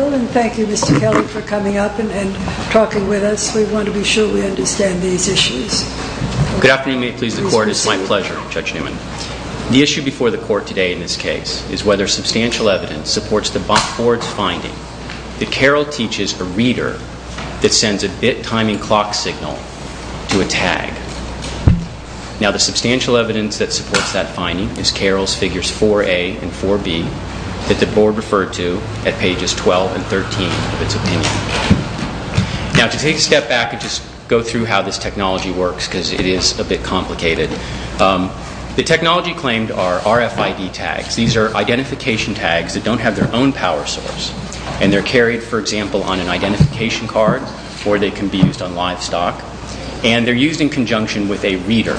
and thank you Mr. Kelley for coming up and talking with us. We want to be sure we understand these issues. Good afternoon, may it please the Court. It's my pleasure, Judge Newman. The issue before the Court today in this case is whether substantial evidence supports the Board's finding that Carroll teaches a reader that sends a bit-timing clock signal to a tag. Now the substantial evidence that supports that finding is Carroll's figures 4A and 4B that the Board referred to at pages 12 and 13 of its opinion. Now to take a step back and just go through how this technology works because it is a bit complicated, the technology claimed are RFID tags. These are identification tags that don't have their own power source and they're carried, for example, on an identification card or they can be used on livestock and they're used in conjunction with a reader.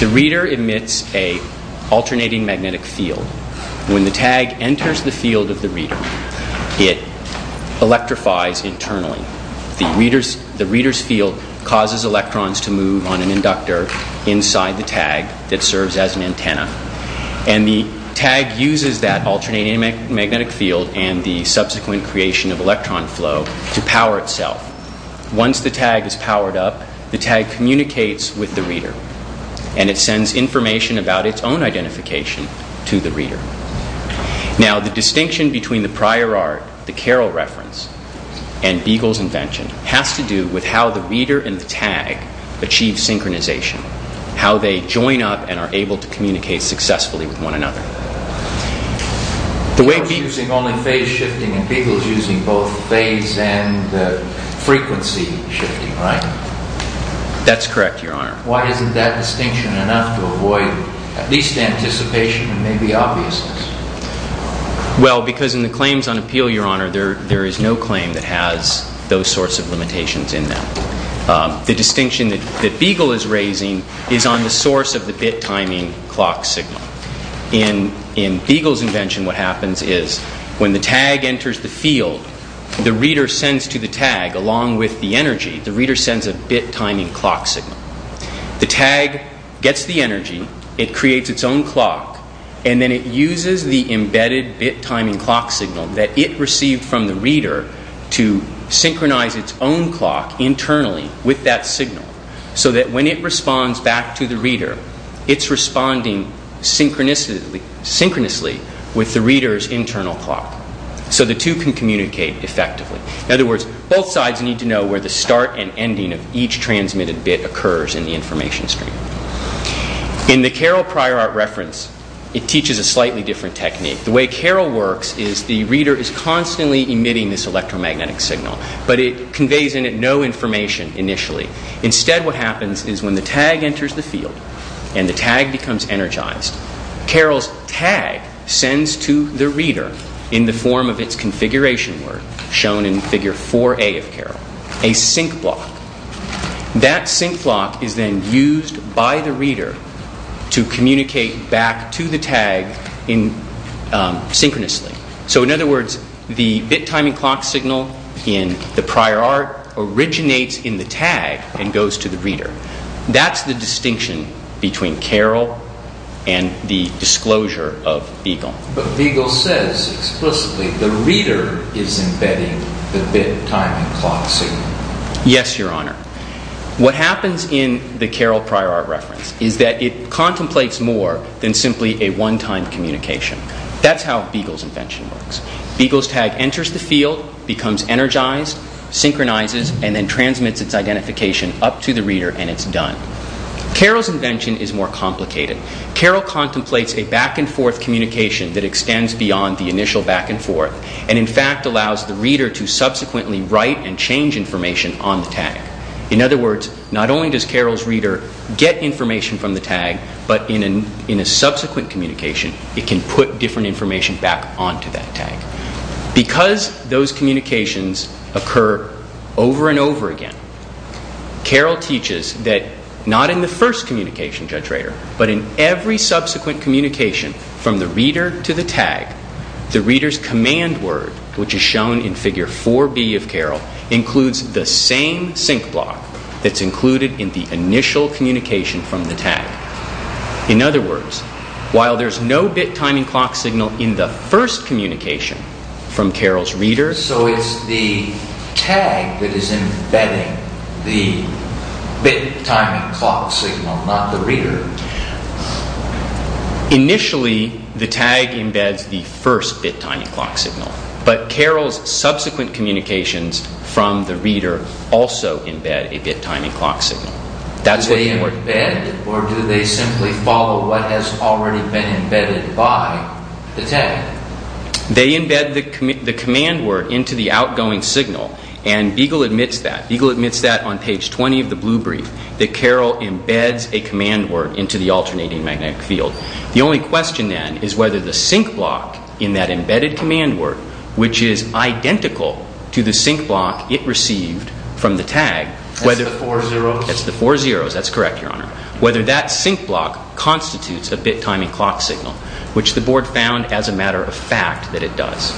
The reader emits an alternating magnetic field. When the tag enters the field of the reader, it electrifies internally. The reader's field causes electrons to move on an inductor inside the tag that serves as an antenna and the tag uses that alternating magnetic field and the subsequent creation of electron flow to Once the tag is powered up, the tag communicates with the reader and it sends information about its own identification to the reader. Now the distinction between the prior art, the Carroll reference, and Beagle's invention has to do with how the reader and the tag achieve synchronization, how they join up and are able to communicate successfully with one another. You're using only phase shifting and Beagle's using both phase and frequency shifting, right? That's correct, Your Honor. Why isn't that distinction enough to avoid at least anticipation and maybe obviousness? Well because in the claims on appeal, Your Honor, there is no claim that has those sorts of limitations in them. The distinction that Beagle is raising is on the source of the bit timing clock signal. In Beagle's invention, what happens is when the tag enters the field, the reader sends to the tag, along with the energy, the reader sends a bit timing clock signal. The tag gets the energy, it creates its own clock, and then it uses the embedded bit timing clock signal that it received from the reader to synchronize its own clock internally with that signal so that when it responds back to the reader, it's responding synchronously with the reader's internal clock so the two can communicate effectively. In other words, both sides need to know where the start and ending of each transmitted bit occurs in the information stream. In the Carroll prior art reference, it teaches a slightly different technique. The way Carroll works is the reader is constantly emitting this electromagnetic signal, but it conveys in it no information initially. Instead, what happens is when the tag enters the field and the tag becomes energized, Carroll's tag sends to the reader, in the form of its configuration work, shown in figure 4A of Carroll, a sync block. That sync block is then used by the reader to communicate back to the tag synchronously. So in other words, the bit timing clock signal in the prior art originates in the tag and goes to the reader. That's the distinction between Carroll and the disclosure of Beagle. But Beagle says explicitly the reader is embedding the bit timing clock signal. Yes, Your Honor. What happens in the Carroll prior art reference is that it contemplates more than simply a one-time communication. That's how Beagle's invention works. Beagle's tag enters the field, becomes energized, synchronizes, and then transmits its identification up to the reader, and it's done. Carroll's invention is more complicated. Carroll contemplates a back-and-forth communication that extends beyond the initial back-and-forth, and in fact allows the reader to subsequently write and change information on the tag. In other words, not only does Carroll's reader get information from the tag, but in a subsequent communication, it can put different information back onto that tag. Because those communications occur over and over again, Carroll teaches that not in the first communication, Judge Rader, but in every subsequent communication from the reader to the tag, the reader's command word, which is shown in Figure 4B of Carroll, includes the same sync block that's included in the initial communication from the tag. In other words, in every subsequent communication from Carroll's reader... So it's the tag that is embedding the bit-time-and-clock signal, not the reader. Initially, the tag embeds the first bit-time-and-clock signal, but Carroll's subsequent communications from the reader also embed a bit-time-and-clock signal. That's what you're... Do they embed, or do they simply follow what has already been embedded by the tag? They embed the command word into the outgoing signal, and Beagle admits that. Beagle admits that on page 20 of the Blue Brief, that Carroll embeds a command word into the alternating magnetic field. The only question, then, is whether the sync block in that embedded command word, which is identical to the sync block it received from the tag, whether... That's the four zeros? Four zeros. That's correct, Your Honor. Whether that sync block constitutes a bit-time-and-clock signal, which the Board found, as a matter of fact, that it does.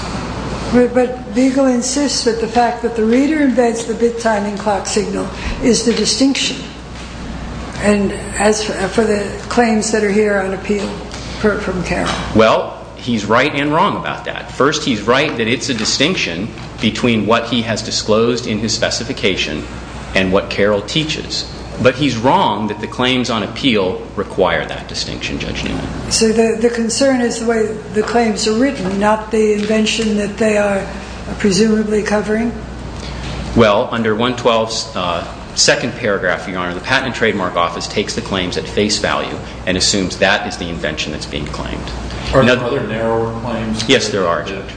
But Beagle insists that the fact that the reader embeds the bit-time-and-clock signal is the distinction. And as for the claims that are here on appeal from Carroll... Well, he's right and wrong about that. First, he's right that it's a distinction between what he has disclosed in his specification and what Carroll teaches. But he's wrong that the claims on appeal require that distinction, Judge Newman. So the concern is the way the claims are written, not the invention that they are presumably covering? Well, under 112's second paragraph, Your Honor, the Patent and Trademark Office takes the claims at face value and assumes that is the invention that's being claimed. Are there other narrower claims? Yes, there are, Judge.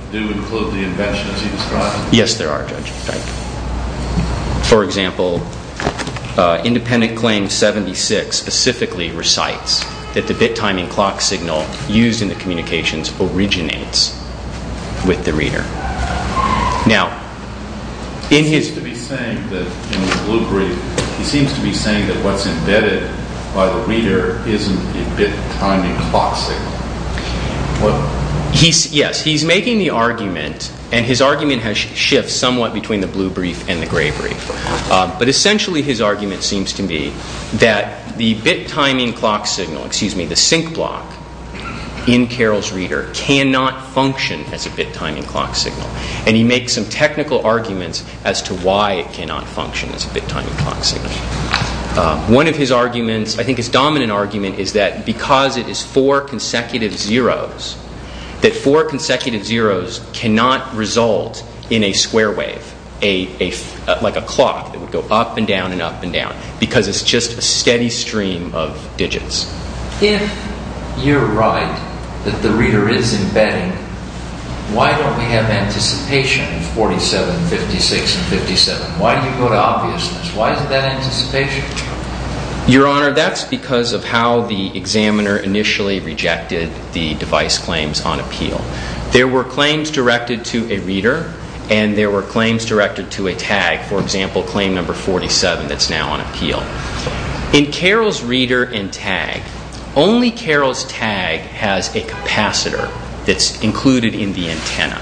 For example, Independent Claim 76 specifically recites that the bit-time-and-clock signal used in the communications originates with the reader. Now, in his... He seems to be saying that what's embedded by the reader isn't the bit-time-and-clock signal. Well, yes, he's making the argument, and his argument has shifted somewhat between the blue brief and the gray brief. But essentially, his argument seems to be that the bit-time-and-clock signal, excuse me, the sync block in Carroll's reader cannot function as a bit-time-and-clock signal. And he makes some technical arguments as to why it cannot function as a bit-time-and-clock signal. One of his arguments, I think his dominant argument, is that because it is four consecutive zeros, that four consecutive zeros cannot result in a square wave, like a clock that would go up and down and up and down, because it's just a steady stream of digits. If you're right that the reader is embedding, why don't we have anticipation of 47, 56, and 57? Why do you go to obviousness? Why is it that anticipation? Your Honor, that's because of how the examiner initially rejected the device claims on appeal. There were claims directed to a reader, and there were claims directed to a tag, for example, claim number 47 that's now on appeal. In Carroll's reader and tag, only Carroll's tag has a capacitor that's included in the antenna.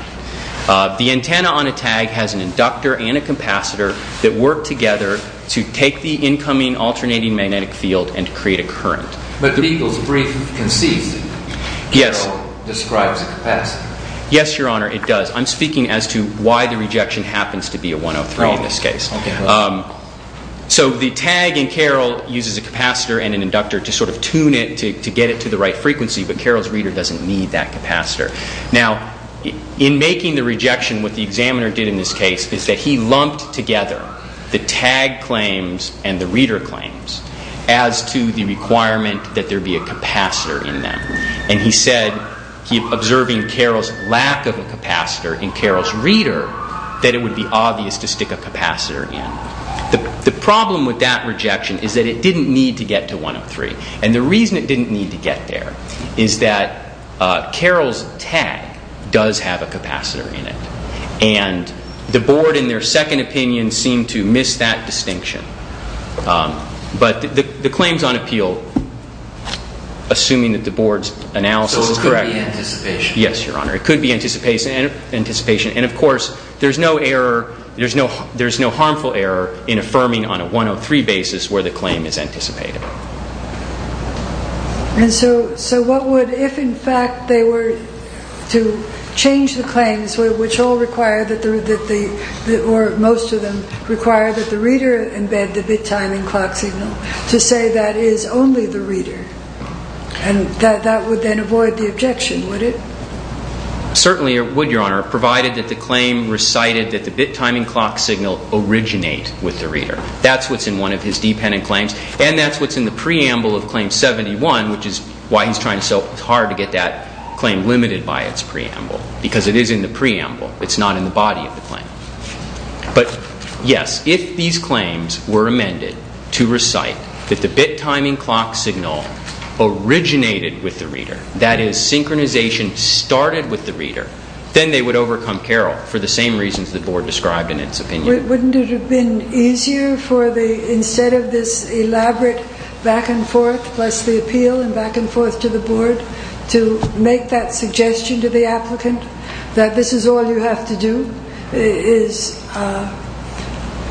The antenna on a tag has an inductor and a capacitor that work together to take the incoming alternating magnetic field and create a current. But the legal brief concedes that Carroll describes a capacitor. Yes, Your Honor, it does. I'm speaking as to why the rejection happens to be a 103 in this case. So the tag in Carroll uses a capacitor and an inductor to sort of tune it to get it to the right frequency, but Carroll's reader doesn't need that capacitor. Now, in making the rejection, what the examiner did in this case is that he lumped together the tag claims and the reader claims as to the requirement that there be a capacitor in them. And he said, observing Carroll's lack of a capacitor in Carroll's reader, that it would be obvious to stick a capacitor in. The problem with that rejection is that it didn't need to get there, is that Carroll's tag does have a capacitor in it. And the Board in their second opinion seemed to miss that distinction. But the claims on appeal, assuming that the Board's analysis is correct. So it could be anticipation? Yes, Your Honor. It could be anticipation. And of course, there's no error, there's no error. And so what would, if in fact they were to change the claims, which all require that or most of them require that the reader embed the bit time and clock signal, to say that is only the reader? And that would then avoid the objection, would it? Certainly it would, Your Honor, provided that the claim recited that the bit time and clock signal originate with the reader. That's what's in one of his dependent claims. And that's what's in the preamble of Claim 71, which is why he's trying so hard to get that claim limited by its preamble, because it is in the preamble, it's not in the body of the claim. But yes, if these claims were amended to recite that the bit time and clock signal originated with the reader, that is synchronization started with the reader, then they would overcome Carroll for the same reasons the Board described in its opinion. Wouldn't it have been easier for the, instead of this elaborate back and forth, plus the appeal and back and forth to the Board, to make that suggestion to the applicant that this is all you have to do, is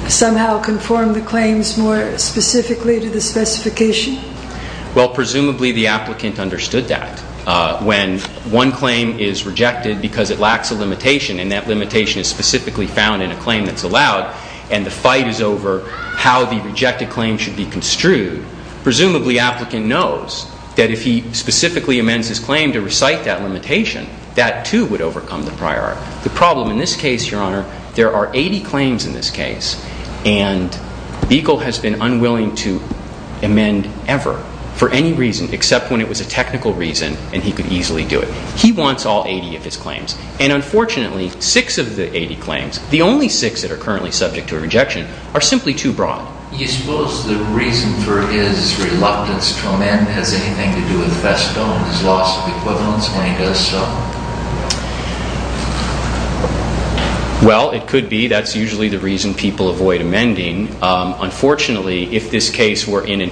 somehow conform the claims more specifically to the specification? Well presumably the applicant understood that. When one claim is rejected because it lacks a limitation, and that limitation is specifically found in a claim that's allowed, and the fight is over how the rejected claim should be construed, presumably the applicant knows that if he specifically amends his claim to recite that limitation, that too would overcome the priority. The problem in this case, Your Honor, there are 80 claims in this case, and Beagle has been unwilling to amend ever, for any reason, except when it was a technical reason, and he could easily do it. He wants all 80 of his claims. And unfortunately, 6 of the 80 claims, the only 6 that are currently subject to a rejection, are simply too broad. Do you suppose the reason for his reluctance to amend has anything to do with Vesto and his loss of equivalence when he does so? Well it could be. That's usually the reason people avoid amending. Unfortunately, if this is the case, there are many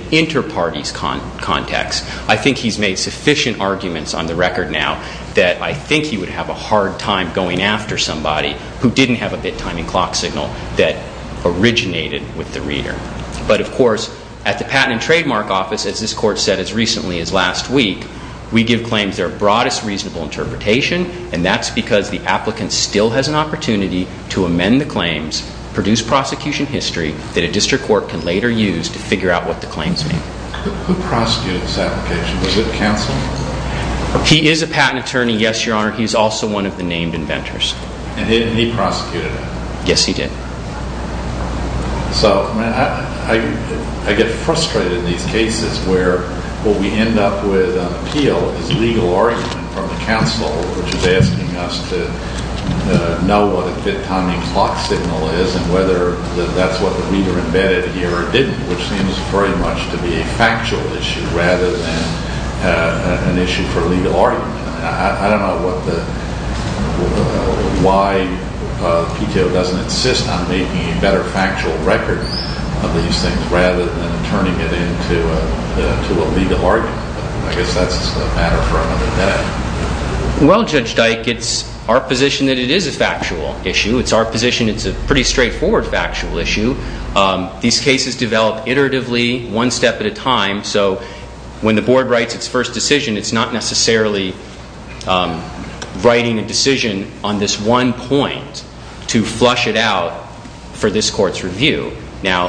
arguments on the record now that I think he would have a hard time going after somebody who didn't have a bit-timing clock signal that originated with the reader. But of course, at the Patent and Trademark Office, as this Court said as recently as last week, we give claims their broadest reasonable interpretation, and that's because the applicant still has an opportunity to amend the claims, produce prosecution history that a district court can later use to figure out what the claims mean. Who prosecuted this application? Was it counsel? He is a patent attorney, yes, Your Honor. He's also one of the named inventors. And he prosecuted it? Yes, he did. So, I get frustrated in these cases where what we end up with on appeal is legal argument from the counsel, which is asking us to know what a bit-timing clock signal is, and whether that's what the reader embedded here or didn't, which seems very much to be a factual issue rather than an issue for legal argument. I don't know why PTO doesn't insist on making a better factual record of these things rather than turning it into a legal argument. I guess that's a matter for another day. Well, Judge Dyke, it's our position that it is a factual issue. It's our position it's a pretty straightforward factual issue. These cases develop iteratively, one step at a time. So, when the Board writes its first decision, it's not necessarily writing a decision on this one point to flush it out for this Court's review. Now,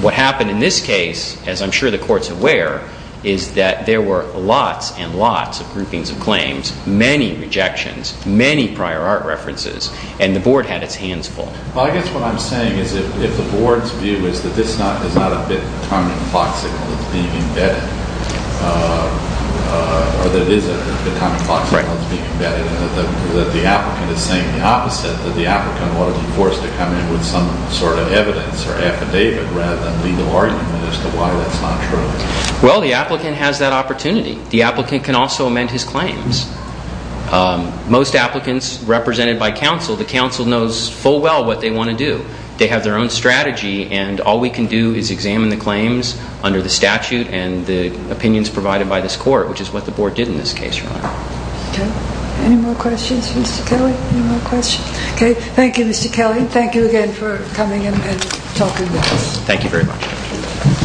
what happened in this case, as I'm sure the Court's aware, is that there were lots and lots of groupings of claims, many rejections, many prior art references, and the Board had its hands full. Well, I guess what I'm saying is if the Board's view is that this is not a bit-timing clock signal that's being embedded, or that it is a bit-timing clock signal that's being embedded and that the applicant is saying the opposite, that the applicant ought to be forced to come in with some sort of evidence or affidavit rather than legal argument as to why that's not true. Well, the applicant has that opportunity. The applicant can also amend his claims. Most They have their own strategy, and all we can do is examine the claims under the statute and the opinions provided by this Court, which is what the Board did in this case, Your Honor. Okay. Any more questions for Mr. Kelly? Any more questions? Okay. Thank you, Mr. Kelly. Thank you again for coming in and talking with us. Thank you very much.